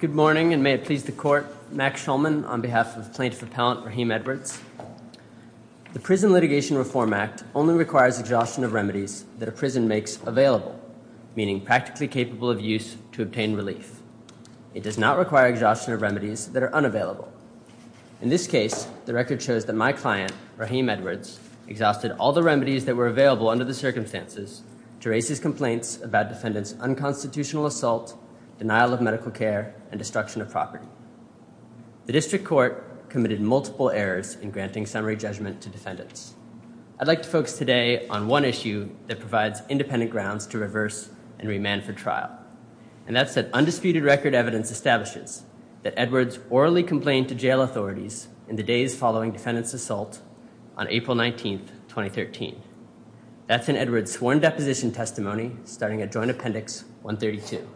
Good morning and may it please the court, Max Schulman on behalf of plaintiff appellant Rahim Edwards. The Prison Litigation Reform Act only requires exhaustion of remedies that a prison makes available, meaning practically capable of use to obtain relief. It does not require exhaustion of remedies that are unavailable. In this case, the record shows that my client, Rahim Edwards, exhausted all the remedies that were available under the circumstances to raise his complaints about defendant's unconstitutional assault, denial of medical care, and destruction of property. The district court committed multiple errors in granting summary judgment to defendants. I'd like to focus today on one issue that provides independent grounds to reverse and remand for trial, and that's that undisputed record evidence establishes that Edwards orally complained to jail authorities in the days following defendant's assault on April 19th, 2013. That's in Edwards' sworn deposition testimony starting at Joint Appendix 132.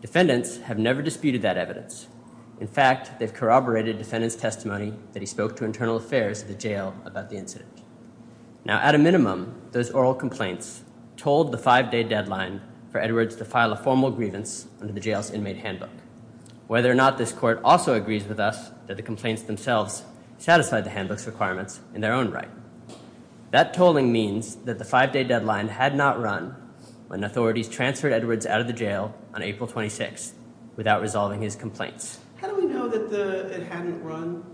Defendants have never disputed that evidence. In fact, they've corroborated defendant's testimony that he spoke to internal affairs of the jail about the incident. Now, at a minimum, those oral complaints told the five-day deadline for Edwards to file a formal grievance under the jail's inmate handbook, whether or not this court also agrees with us that the complaints themselves satisfy the handbook's requirements in their own right. That tolling means that the five-day deadline had not run when authorities transferred Edwards out of the jail on April 26th without resolving his complaints. How do we know that it hadn't run?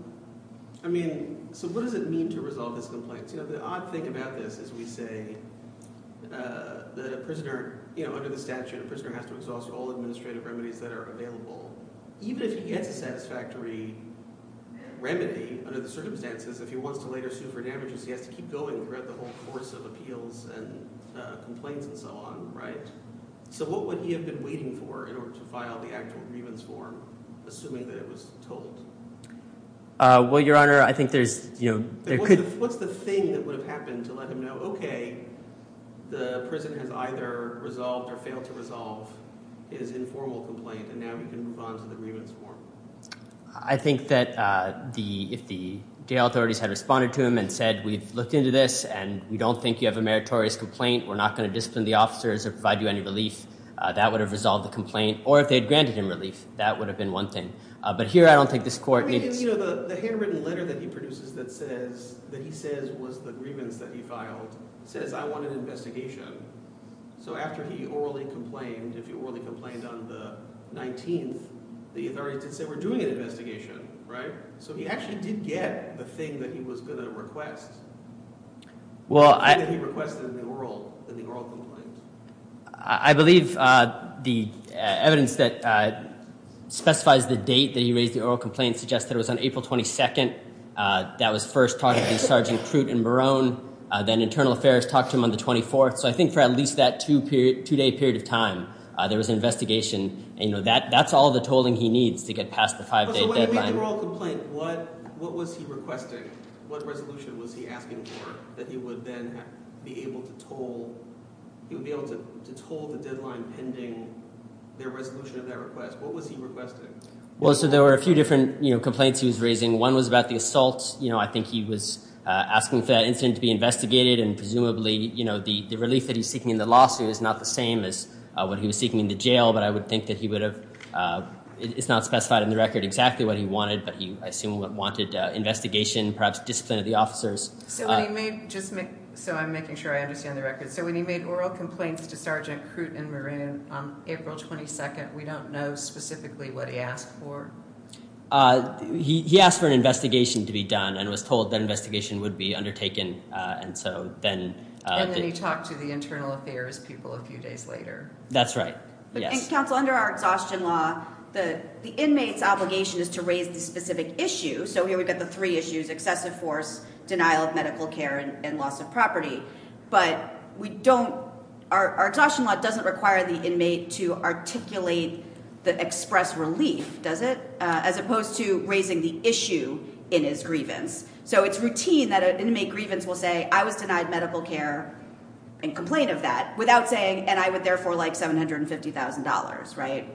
I mean, so what does it mean to resolve his complaints? You know, the odd thing about this is we say that a prisoner, you know, under the statute, a prisoner has to exhaust all administrative remedies that are available. Even if he gets a satisfactory remedy under the circumstances, if he wants to later sue for damages, he has to keep going throughout the whole course of appeals and complaints and so on, right? So what would he have been waiting for in order to file the actual grievance form, assuming that it was told? Well, your honor, I think there's, you know, there could... What's the thing that would have happened to let him know, okay, the prisoner has either resolved or failed to resolve his informal complaint and now he can move on to the grievance form? I think that if the jail authorities had responded to him and said, we've looked into this and we don't think you have a meritorious complaint, we're not going to discipline the officers or provide you any relief, that would have resolved the complaint, or if they had granted him relief, that would have been one thing. But here, I don't think this court... I mean, you know, the handwritten letter that he produces that says that he says was the grievance that he filed says, I want an investigation. So after he orally complained, if he orally complained on the 19th, the authorities did say, we're doing an investigation, right? So he actually did get the thing that he was going to request. Well, I... The thing that he requested in the oral complaint. I believe the evidence that specifies the date that he raised the oral complaint suggests that it was on April 22nd. That was first talking to Sergeant Crute and Barone, then Internal Affairs talked to him on the 24th. So I think for at least that two-day period of time, there was an atolling he needs to get past the five-day deadline. So when you read the oral complaint, what was he requesting? What resolution was he asking for that he would then be able to toll the deadline pending the resolution of that request? What was he requesting? Well, so there were a few different, you know, complaints he was raising. One was about the assault. You know, I think he was asking for that incident to be investigated, and presumably, you know, the relief that he's seeking in the lawsuit is not the same as what he was seeking in the jail, but I would think that he would have... It's not specified in the record exactly what he wanted, but he, I assume, wanted investigation, perhaps discipline of the officers. So when he made... Just make... So I'm making sure I understand the record. So when he made oral complaints to Sergeant Crute and Barone on April 22nd, we don't know specifically what he asked for? He asked for an investigation to be done and was told that investigation would be undertaken, and so then... And then he talked to the Internal Affairs people a few days later. That's right. Yes. Counsel, under our exhaustion law, the inmate's obligation is to raise the specific issue. So here we've got the three issues, excessive force, denial of medical care, and loss of property, but we don't... Our exhaustion law doesn't require the inmate to articulate the express relief, does it? As opposed to raising the issue in his grievance. So it's routine that an inmate grievance will say, I was denied medical care and complain of that without saying, and I would like $750,000, right?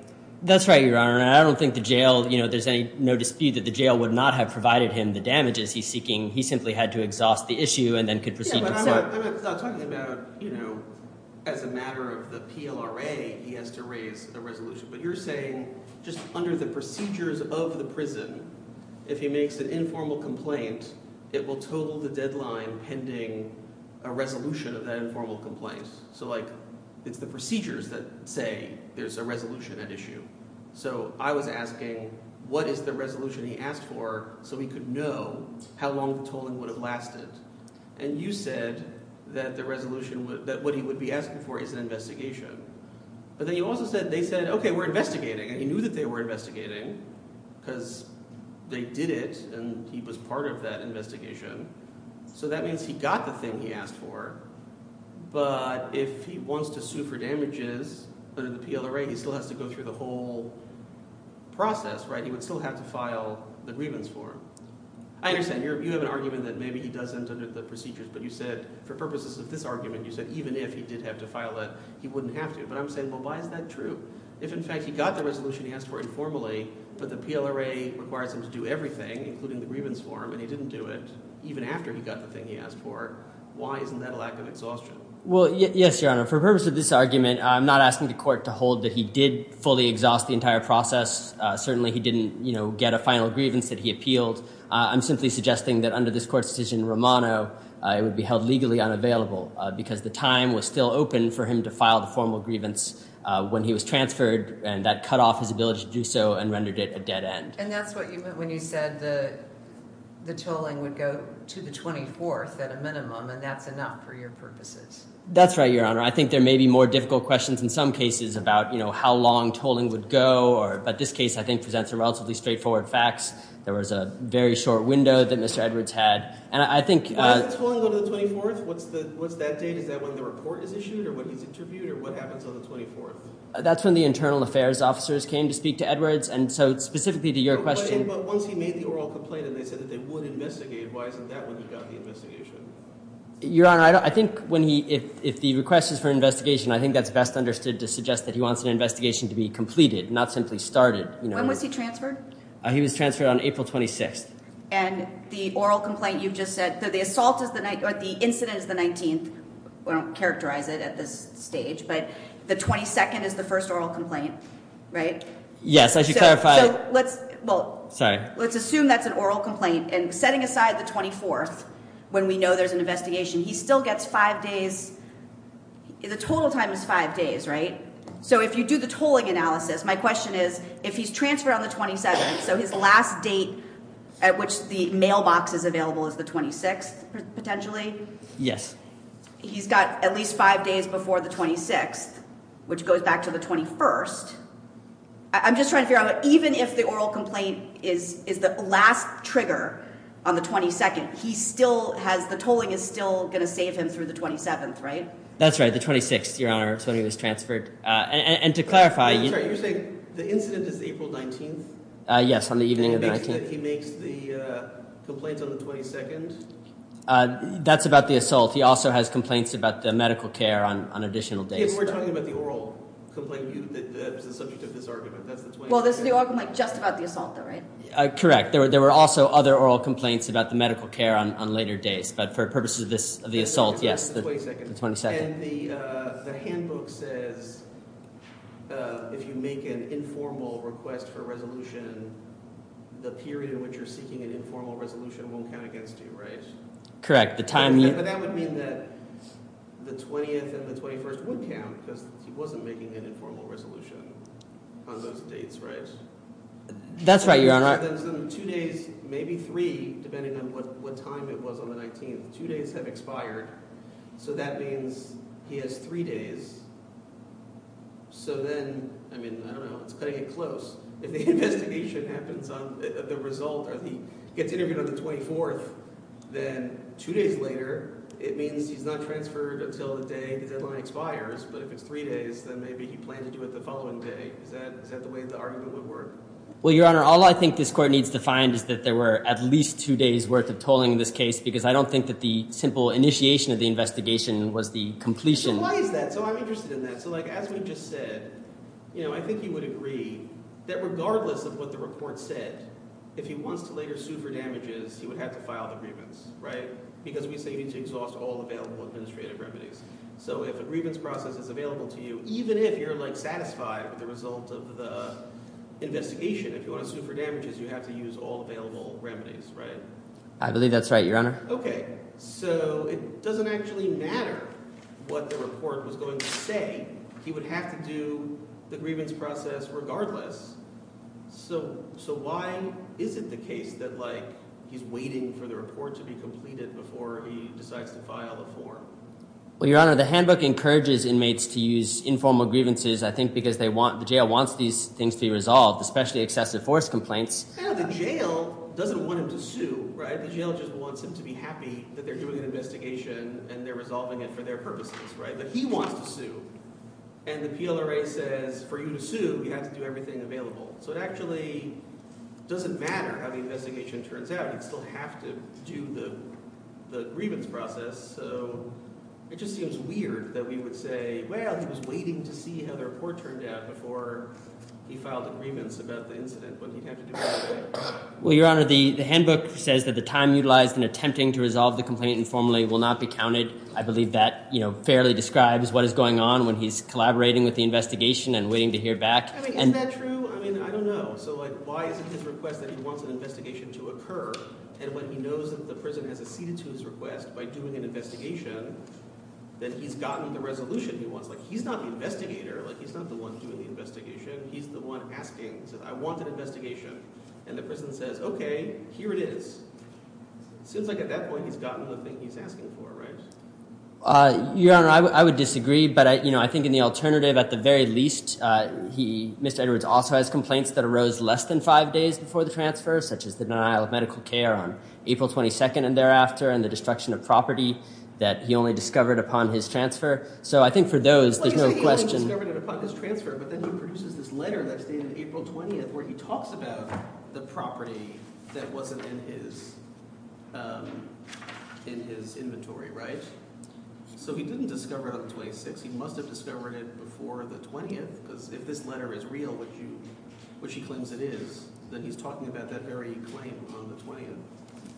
That's right, Your Honor. And I don't think the jail... There's no dispute that the jail would not have provided him the damages he's seeking. He simply had to exhaust the issue and then could proceed himself. I'm not talking about as a matter of the PLRA, he has to raise a resolution, but you're saying just under the procedures of the prison, if he makes an informal complaint, it will total the deadline pending a resolution of that informal complaint. So it's the procedures that say there's a resolution at issue. So I was asking, what is the resolution he asked for so he could know how long the tolling would have lasted? And you said that what he would be asking for is an investigation. But then you also said, they said, okay, we're investigating. And he knew that they were investigating because they did it and he was part of that investigation. So that means he got the thing he asked for, but if he wants to sue for damages under the PLRA, he still has to go through the whole process, right? He would still have to file the grievance form. I understand you have an argument that maybe he doesn't under the procedures, but you said for purposes of this argument, you said even if he did have to file that, he wouldn't have to. But I'm saying, well, why is that true? If in fact he got the resolution he asked for informally, but the PLRA requires him to do everything, including the grievance form, and he didn't do it even after he got the thing he asked for, why isn't that a lack of exhaustion? Well, yes, Your Honor. For purpose of this argument, I'm not asking the court to hold that he did fully exhaust the entire process. Certainly he didn't get a final grievance that he appealed. I'm simply suggesting that under this court's decision in Romano, it would be held legally unavailable because the time was still open for him to file the formal grievance when he was transferred and that cut off his ability to do so and rendered it a dead end. And that's what you meant when you said the tolling would go to the 24th at a minimum, and that's enough for your purposes. That's right, Your Honor. I think there may be more difficult questions in some cases about how long tolling would go, but this case, I think, presents some relatively straightforward facts. There was a very short window that Mr. Edwards had, and I think- When is the tolling on the 24th? What's that date? Is that when the report is issued, or when he's interviewed, or what happens on the 24th? That's when the internal affairs officers came to speak to Edwards, and so specifically to your question- But once he made the oral complaint and they said that they would investigate, why isn't that when he got the investigation? Your Honor, I think if the request is for investigation, I think that's best understood to suggest that he wants an investigation to be completed, not simply started. When was he transferred? He was transferred on April 26th. And the oral complaint you've just said, the incident is the 19th. We don't characterize it at this stage, but the 22nd is the first oral complaint, right? Yes, I should clarify- So let's- Well- Sorry. Let's assume that's an oral complaint, and setting aside the 24th, when we know there's an investigation, he still gets five days. The total time is five days, right? So if you do the tolling analysis, my question is, if he's transferred on the 27th, so his last date at which the mailbox is available is the 26th, potentially? Yes. He's got at least five days before the 26th, which goes back to the 21st. I'm just trying to figure out, even if the oral complaint is the last trigger on the 22nd, he still has- the tolling is still going to save him through the 27th, right? That's right, the 26th, Your Honor, when he was transferred. And to clarify- I'm sorry, you're saying the incident is April 19th? Yes, on the evening of the 19th. He makes the complaints on the 22nd? That's about the assault. He also has complaints about the medical care on additional days. We're talking about the oral complaint, the subject of this argument, that's the 22nd. Well, this is the argument just about the assault, though, right? Correct. There were also other oral complaints about the medical care on later days, but for purposes of the assault, yes, the 22nd. And the handbook says, if you make an informal request for resolution, the period in which you're seeking an informal resolution won't count against you, right? Correct. But that would mean that the 20th and the 21st would count, because he wasn't making an informal resolution on those dates, right? That's right, Your Honor. So then two days, maybe three, depending on what time it was on the 19th, two days have expired. So that means he has three days. So then, I mean, I don't know, it's cutting it close. If the investigation happens on the result, or he gets interviewed on the 24th, then two days later, it means he's not transferred until the day his deadline expires. But if it's three days, then maybe he planned to do it the following day. Is that the way the argument would work? Well, Your Honor, all I think this court needs to find is that there were at least two days worth of tolling in this case, because I don't think that the simple initiation of the investigation was the completion. Why is that? So I'm interested in that. So as we just said, I think he would agree that regardless of what the report said, if he wants to later sue for damages, he would have to file the grievance, right? Because we say you need to exhaust all available administrative remedies. So if a grievance process is available to you, even if you're satisfied with the result of the investigation, if you want to sue for damages, you have to use all available remedies, right? I believe that's right, Your Honor. Okay. So it doesn't actually matter what the report was going to say. He would have to do the grievance process regardless. So why is it the case that he's waiting for the report to be completed before he decides to file a form? Well, Your Honor, the handbook encourages inmates to use informal grievances, I think, because the jail wants these things to be resolved, especially excessive force complaints. Yeah, the jail doesn't want him to sue, right? The jail just wants him to be happy that they're doing an investigation and they're resolving it for their purposes, right? But he wants to sue. And the PLRA says, for you to sue, you have to do everything available. So it actually doesn't matter how the investigation turns out. You'd still have to do the grievance process. So it just seems weird that we would say, well, he was waiting to see how the report turned out before he filed agreements about the incident, but he'd have to do it anyway. Well, Your Honor, the handbook says that the time utilized in attempting to resolve the complaint informally will not be counted. I believe that fairly describes what is going on when he's collaborating with the investigation and waiting to hear back. I mean, isn't that true? I mean, I don't know. So why is it his request that he wants an investigation to occur? And when he knows that the prison has acceded to his request by doing an investigation, then he's gotten the resolution he wants. He's not the investigator. He's not the one doing the investigation. He's the one asking. He says, I want an investigation. And the prison says, OK, here it is. It seems like at that point, he's gotten the thing he's asking for, right? Your Honor, I would disagree. But I think in the alternative, at the very least, Mr. Edwards also has complaints that arose less than five days before the transfer, such as the denial of medical care on April 22nd and thereafter, and the destruction of property that he only discovered upon his transfer. So I think for those, there's no question. He only discovered it upon his transfer. But then he produces this letter that's dated April 20th where he talks about the property that wasn't in his inventory, right? So he didn't discover it on the 26th. He must have discovered it before the 20th. Because if this letter is real, which he claims it is, then he's talking about that very claim on the 20th.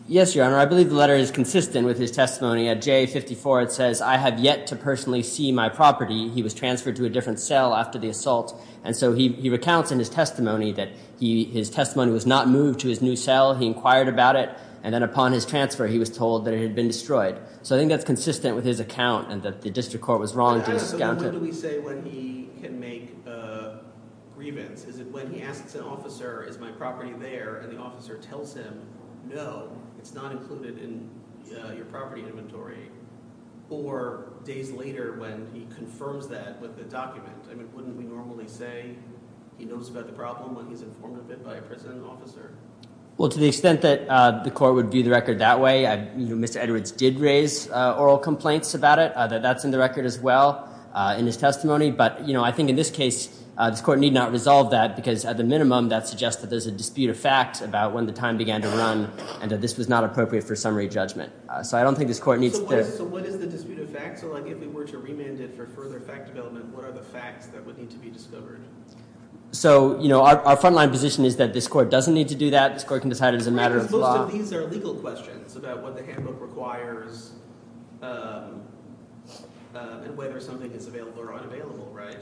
Yes, Your Honor. I believe the letter is consistent with his testimony. At J54, it says, I have yet to personally see my property. He was transferred to a different cell after the assault. And so he recounts in his testimony that his testimony was not moved to his new cell. He inquired about it. And then upon his transfer, he was told that it had been destroyed. So I think that's consistent with his account, and that the district court was wrong to have scouted. When do we say when he can make a grievance? Is it when he asks an officer, is my property there? And the officer tells him, no, it's not included in your property inventory? Or days later when he confirms that with the document? I mean, wouldn't we normally say he knows about the problem when he's informed of it by a prison officer? Well, to the extent that the court would view the record that way, Mr. Edwards did raise oral complaints about it, that that's in the record as well in his testimony. But I think in this case, this court need not resolve that. Because at the minimum, that suggests that there's a dispute of fact about when the time began to run, and that this was not appropriate for summary judgment. So I don't think this court needs to- So what is the dispute of fact? So if we were to remand it for further fact development, what are the facts that would need to be discovered? So our frontline position is that this court doesn't need to do that. This court can decide it as a matter of law. Most of these are legal questions about what the handbook requires and whether something is available or unavailable, right?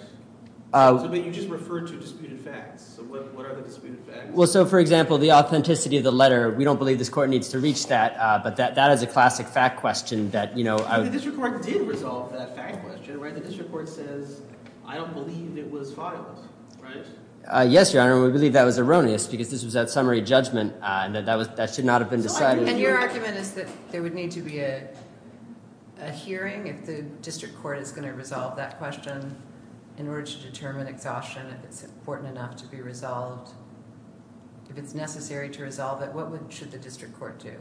But you just referred to disputed facts. So what are the disputed facts? Well, so for example, the authenticity of the letter, we don't believe this court needs to reach that. But that is a classic fact question that, you know- But the district court did resolve that fact question, right? The district court says, I don't believe it was filed, right? Yes, Your Honor, we believe that was erroneous because this was at summary judgment. And that should not have been decided. And your argument is that there would need to be a hearing if the district court is going to resolve that question in order to determine exhaustion, if it's important enough to be resolved. If it's necessary to resolve it, what should the district court do?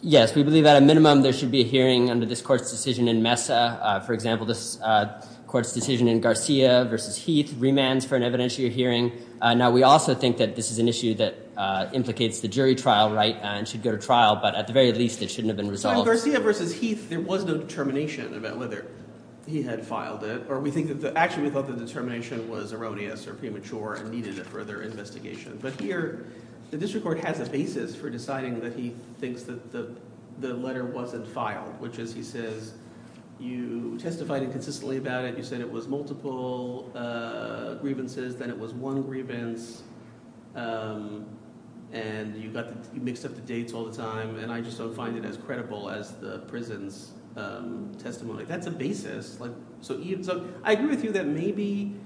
Yes, we believe at a minimum there should be a hearing under this court's decision in Mesa. For example, this court's decision in Garcia versus Heath remands for an evidentiary hearing. Now, we also think that this is an issue that implicates the jury trial, right? And should go to trial. But at the very least, it shouldn't have been resolved. In Garcia versus Heath, there was no determination about whether he had filed it. Or we think that- Actually, we thought the determination was erroneous or premature and needed a further investigation. But here, the district court has a basis for deciding that he thinks that the letter wasn't filed, which is, he says, you testified inconsistently about it. You said it was multiple grievances. Then it was one grievance. And you mixed up the dates all the time. And I just don't find it as credible as the prison's testimony. That's a basis. So I agree with you that maybe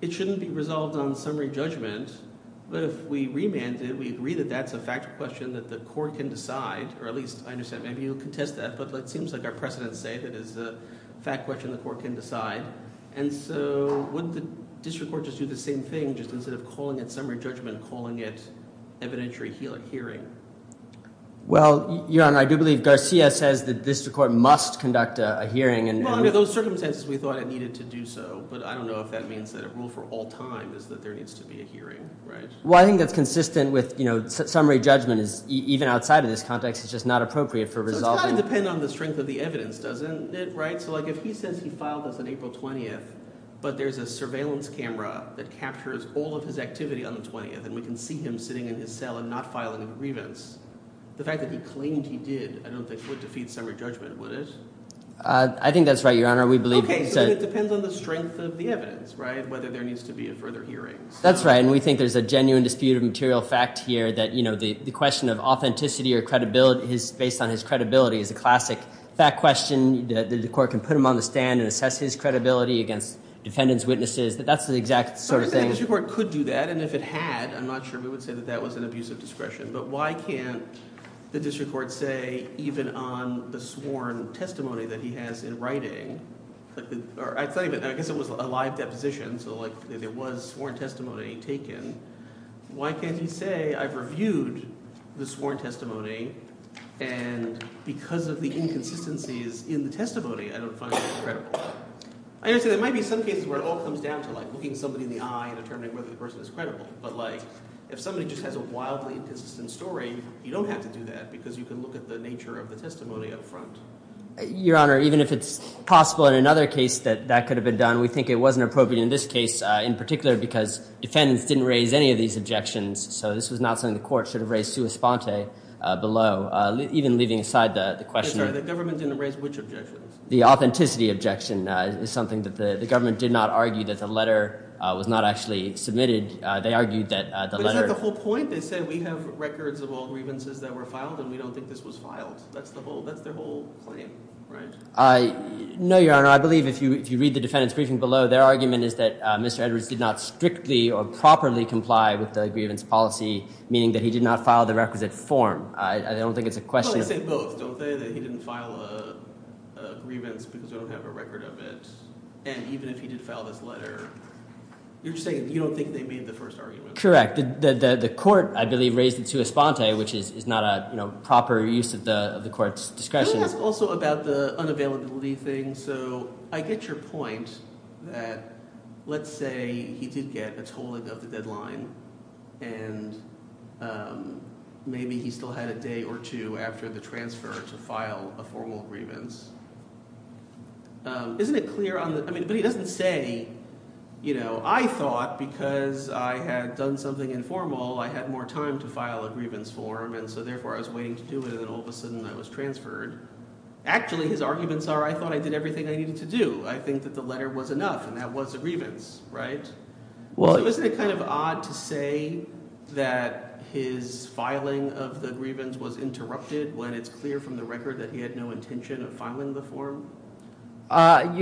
it shouldn't be resolved on summary judgment. But if we remand it, we agree that that's a fact question that the court can decide. Or at least, I understand, maybe you'll contest that. But it seems like our precedents say that it's a fact question the court can decide. And so wouldn't the district court just do the same thing, just instead of calling it summary judgment, calling it evidentiary hearing? Well, Your Honor, I do believe Garcia says that the district court must conduct a hearing. Well, under those circumstances, we thought it needed to do so. But I don't know if that means that a rule for all time is that there needs to be a hearing, right? Well, I think that's consistent with summary judgment is even outside of this context, it's just not appropriate for resolving- So it's got to depend on the strength of the evidence, doesn't it, right? If he says he filed this on April 20th, but there's a surveillance camera that captures all of his activity on the 20th, and we can see him sitting in his cell and not filing a grievance, the fact that he claimed he did, I don't think would defeat summary judgment, would it? I think that's right, Your Honor. Okay, so it depends on the strength of the evidence, right? Whether there needs to be a further hearing. That's right. And we think there's a genuine dispute of material fact here that the question of authenticity or credibility based on his credibility is a classic fact question that the court can put him on the stand and assess his credibility against defendant's witnesses. That's the exact sort of thing- I think the district court could do that, and if it had, I'm not sure we would say that that was an abuse of discretion, but why can't the district court say even on the sworn testimony that he has in writing, or I guess it was a live deposition, so like there was sworn testimony taken, why can't he say I've reviewed the sworn testimony and because of the inconsistencies in the testimony, I don't find it credible? I understand there might be some cases where it all comes down to like looking somebody in the eye and determining whether the person is credible, but like if somebody just has a wildly inconsistent story, you don't have to do that because you can look at the nature of the testimony up front. Your Honor, even if it's possible in another case that that could have been done, we think it wasn't appropriate in this case in particular because defendants didn't raise any of these objections, so this was not something the court should have raised sua sponte below, even leaving aside the question. I'm sorry, the government didn't raise which objections? The authenticity objection is something that the government did not argue that the letter was not actually submitted. They argued that the letter- Is that the whole point? They said we have records of all grievances that were filed and we don't think this was filed. That's their whole claim, right? No, Your Honor. I believe if you read the defendant's briefing below, their argument is that Mr. Edwards did not strictly or properly comply with the grievance policy, meaning that he did not file the requisite form. I don't think it's a question- Well, they say both, don't they? That he didn't file a grievance because they don't have a record of it and even if he did file this letter, you're saying you don't think they made the first argument? Correct. The court, I believe, raised it sua sponte, which is not a proper use of the court's discretion. Can I ask also about the unavailability thing? So I get your point that, let's say he did get a tolling of the deadline and maybe he still had a day or two after the transfer to file a formal grievance. Isn't it clear on the- I mean, but he doesn't say, you know, I thought because I had done something informal, I had more time to file a grievance form and so therefore I was waiting to do it and then all of a sudden I was transferred. Actually, his arguments are, I thought I did everything I needed to do. I think that the letter was enough and that was a grievance, right? Isn't it kind of odd to say that his filing of the grievance was interrupted when it's clear from the record that he had no intention of filing the form? Your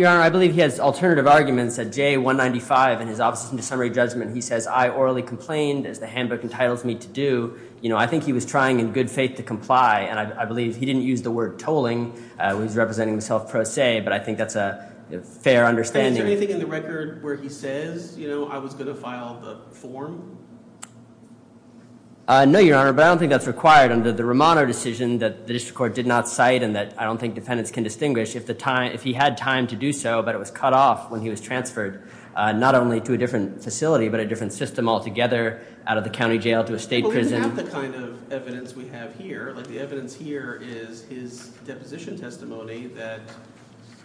Honor, I believe he has alternative arguments at J195 in his Office of Summary Judgment. He says, I orally complained as the handbook entitles me to do. You know, I think he was trying in good faith to comply and I believe he didn't use the word tolling when he's representing himself pro se, but I think that's a fair understanding. Is there anything in the record where he says, I was going to file the form? No, Your Honor, but I don't think that's required under the Romano decision that the district court did not cite and that I don't think defendants can distinguish if he had time to do so, but it was cut off when he was transferred not only to a different facility, but a different system altogether out of the county jail to a state prison. Well, it's not the kind of evidence we have here. Like the evidence here is his deposition testimony that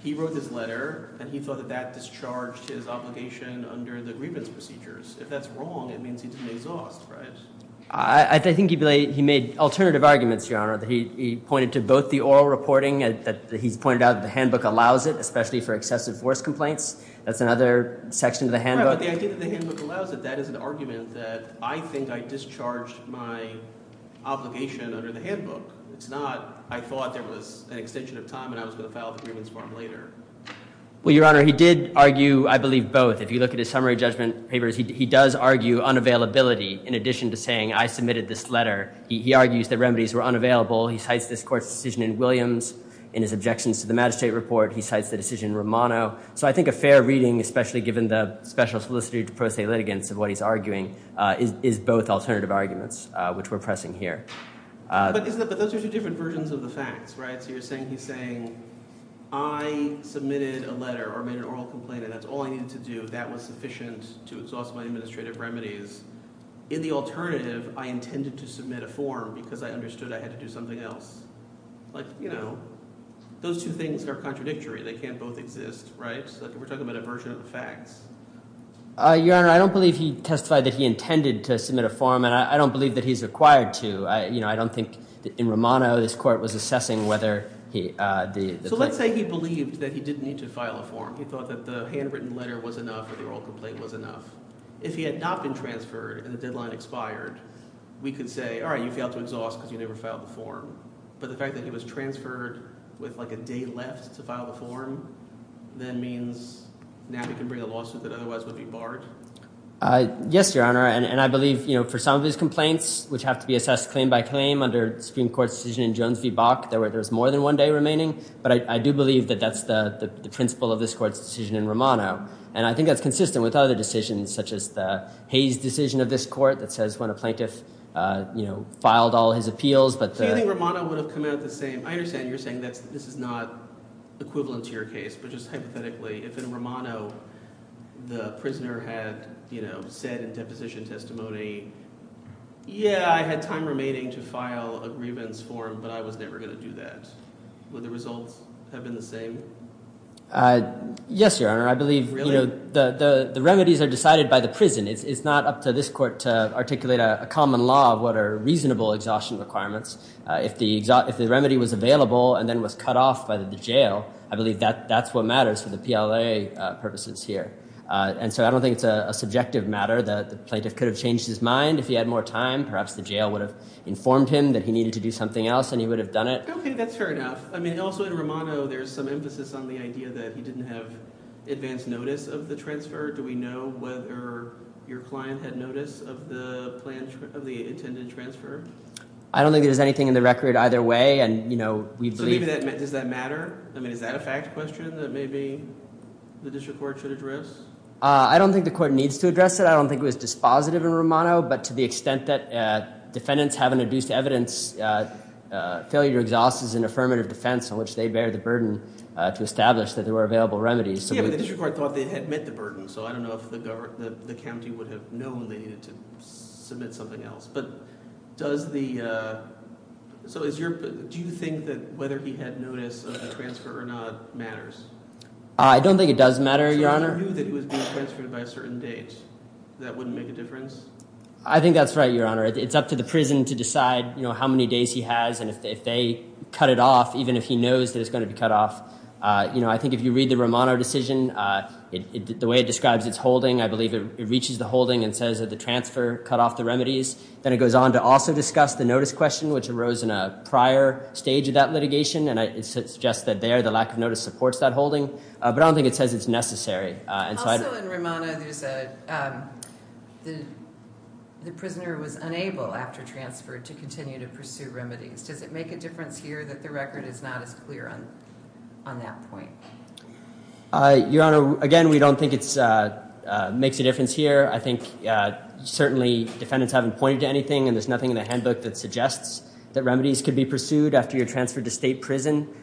he wrote this letter and he thought that that discharged his obligation under the grievance procedures. If that's wrong, it means he didn't exhaust, right? I think he made alternative arguments, Your Honor, that he pointed to both the oral reporting that he's pointed out that the handbook allows it, especially for excessive force complaints. That's another section of the handbook. But the idea that the handbook allows it, that is an argument that I think I discharged my obligation under the handbook. It's not, I thought there was an extension of time and I was going to file the grievance form later. Well, Your Honor, he did argue, I believe, both. If you look at his summary judgment papers, he does argue unavailability in addition to saying, I submitted this letter. He argues that remedies were unavailable. He cites this court's decision in Williams. In his objections to the magistrate report, he cites the decision in Romano. So I think a fair reading, especially given the special solicitor to pro se litigants of what he's arguing is both alternative arguments, which we're pressing here. But those are two different versions of the facts, right? So you're saying he's saying, I submitted a letter or made an oral complaint and that's all I needed to do. That was sufficient to exhaust my administrative remedies. In the alternative, I intended to submit a form because I understood I had to do something else. Like, you know, those two things are contradictory. They can't both exist, right? So we're talking about a version of the facts. Your Honor, I don't believe he testified that he intended to submit a form and I don't believe that he's required to. I don't think in Romano, this court was assessing whether the- So let's say he believed that he didn't need to file a form. He thought that the handwritten letter was enough or the oral complaint was enough. If he had not been transferred and the deadline expired, we could say, all right, you failed to exhaust because you never filed the form. But the fact that he was transferred with like a day left to file the form, then means now he can bring a lawsuit that otherwise would be barred. Yes, Your Honor. And I believe, you know, for some of these complaints, which have to be assessed claim by claim under Supreme Court decision in Jones v. Bach, there's more than one day remaining. But I do believe that that's the principle of this court's decision in Romano. And I think that's consistent with other decisions, such as the Hayes decision of this court that says when a plaintiff, you know, filed all his appeals, but- Do you think Romano would have come out the same? I understand you're saying that this is not equivalent to your case, but just hypothetically, if in Romano, the prisoner had, you know, said in deposition testimony, yeah, I had time remaining to file a grievance form, but I was never going to do that. Would the results have been the same? Yes, Your Honor. I believe, you know, the remedies are decided by the prison. It's not up to this court to articulate a common law of what are reasonable exhaustion requirements. If the remedy was available and then was cut off by the jail, I believe that that's what matters for the PLA purposes here. And so I don't think it's a subjective matter that the plaintiff could have changed his mind if he had more time. Perhaps the jail would have informed him that he needed to do something else and he would have done it. Okay, that's fair enough. I mean, also in Romano, there's some emphasis on the idea that he didn't have advanced notice of the transfer. Do we know whether your client had notice of the plan, of the intended transfer? I don't think there's anything in the record either way. And, you know, we believe- Does that matter? I mean, is that a fact question that maybe the district court should address? I don't think the court needs to address it. I don't think it was dispositive in Romano, but to the extent that defendants haven't reduced evidence, failure to exhaust is an affirmative defense on which they bear the burden to establish that there were available remedies. Yeah, but the district court thought they had met the burden. So I don't know if the county would have known they needed to submit something else. But does the- So is your- Do you think that whether he had notice of the transfer or not matters? I don't think it does matter, Your Honor. So if he knew that he was being transferred by a certain date, that wouldn't make a difference? I think that's right, Your Honor. It's up to the prison to decide, you know, how many days he has. If they cut it off, even if he knows that it's going to be cut off, you know, I think if you read the Romano decision, the way it describes its holding, I believe it reaches the holding and says that the transfer cut off the remedies. Then it goes on to also discuss the notice question, which arose in a prior stage of that litigation. And it suggests that there, the lack of notice supports that holding. But I don't think it says it's necessary. Also in Romano, the prisoner was unable after transfer to continue to pursue remedies. Does it make a difference here that the record is not as clear on that point? Your Honor, again, we don't think it makes a difference here. I think certainly defendants haven't pointed to anything and there's nothing in the handbook that suggests that remedies could be pursued after you're transferred to state prison.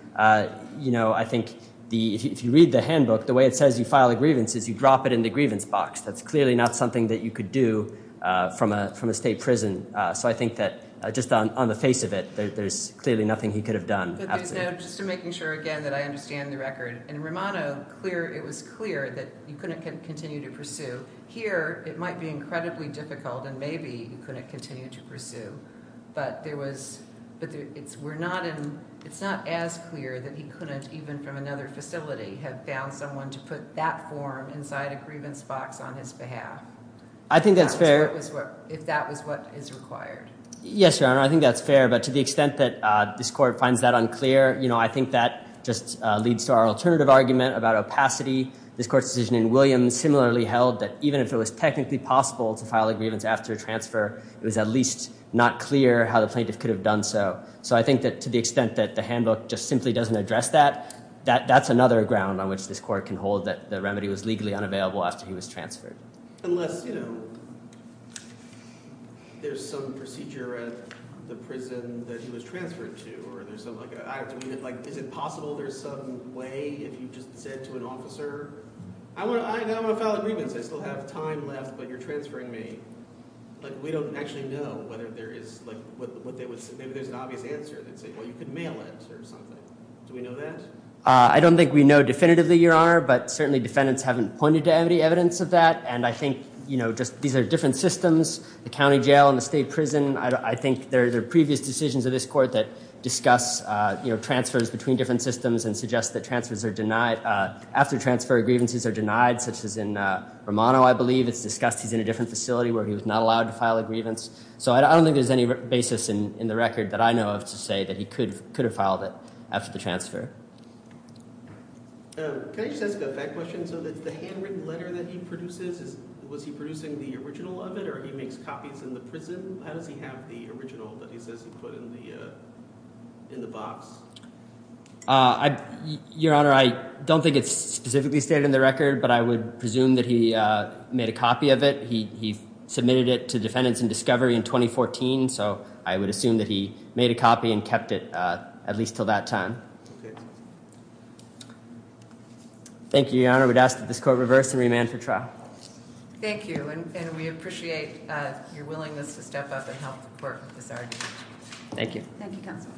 You know, I think if you read the handbook, the way it says you file a grievance is you drop it in the grievance box. That's clearly not something that you could do from a state prison. So I think that just on the face of it, there's clearly nothing he could have done. But just to making sure, again, that I understand the record. In Romano, it was clear that you couldn't continue to pursue. Here, it might be incredibly difficult and maybe you couldn't continue to pursue. But it's not as clear that he couldn't, even from another facility, have found someone to put that form inside a grievance box on his behalf. I think that's fair. If that was what is required. Yes, Your Honor, I think that's fair. But to the extent that this court finds that unclear, I think that just leads to our alternative argument about opacity. This court's decision in Williams similarly held that even if it was technically possible to file a grievance after transfer, it was at least not clear how the plaintiff could have done so. So I think that to the extent that the handbook just simply doesn't address that, that's another ground on which this court can hold that the remedy was legally unavailable after he was transferred. Unless, you know, there's some procedure at the prison that he was transferred to. Is it possible there's some way, if you just said to an officer, I don't want to file a grievance, I still have time left, but you're transferring me. But we don't actually know whether there is, maybe there's an obvious answer that say, well, you could mail it or something. Do we know that? I don't think we know definitively, Your Honor, but certainly defendants haven't pointed to any evidence of that. And I think, you know, just these are different systems, the county jail and the state prison. I think there are previous decisions of this court that discuss, you know, transfers between different systems and suggest that transfers are denied after transfer grievances are denied, such as in Romano, I believe, it's discussed he's in a different facility where he was not allowed to file a grievance. So I don't think there's any basis in the record that I know of to say that he could have filed it after the transfer. Can I just ask a back question? So the handwritten letter that he produces, was he producing the original of it or he makes copies in the prison? How does he have the original that he says he put in the box? Your Honor, I don't think it's specifically stated in the record, but I would presume that he made a copy of it. He submitted it to defendants in discovery in 2014. So I would assume that he made a copy and kept it at least till that time. Thank you, Your Honor. We'd ask that this court reverse and remand for trial. Thank you. And we appreciate your willingness to step up and help work with this argument. Thank you. Thank you, counsel.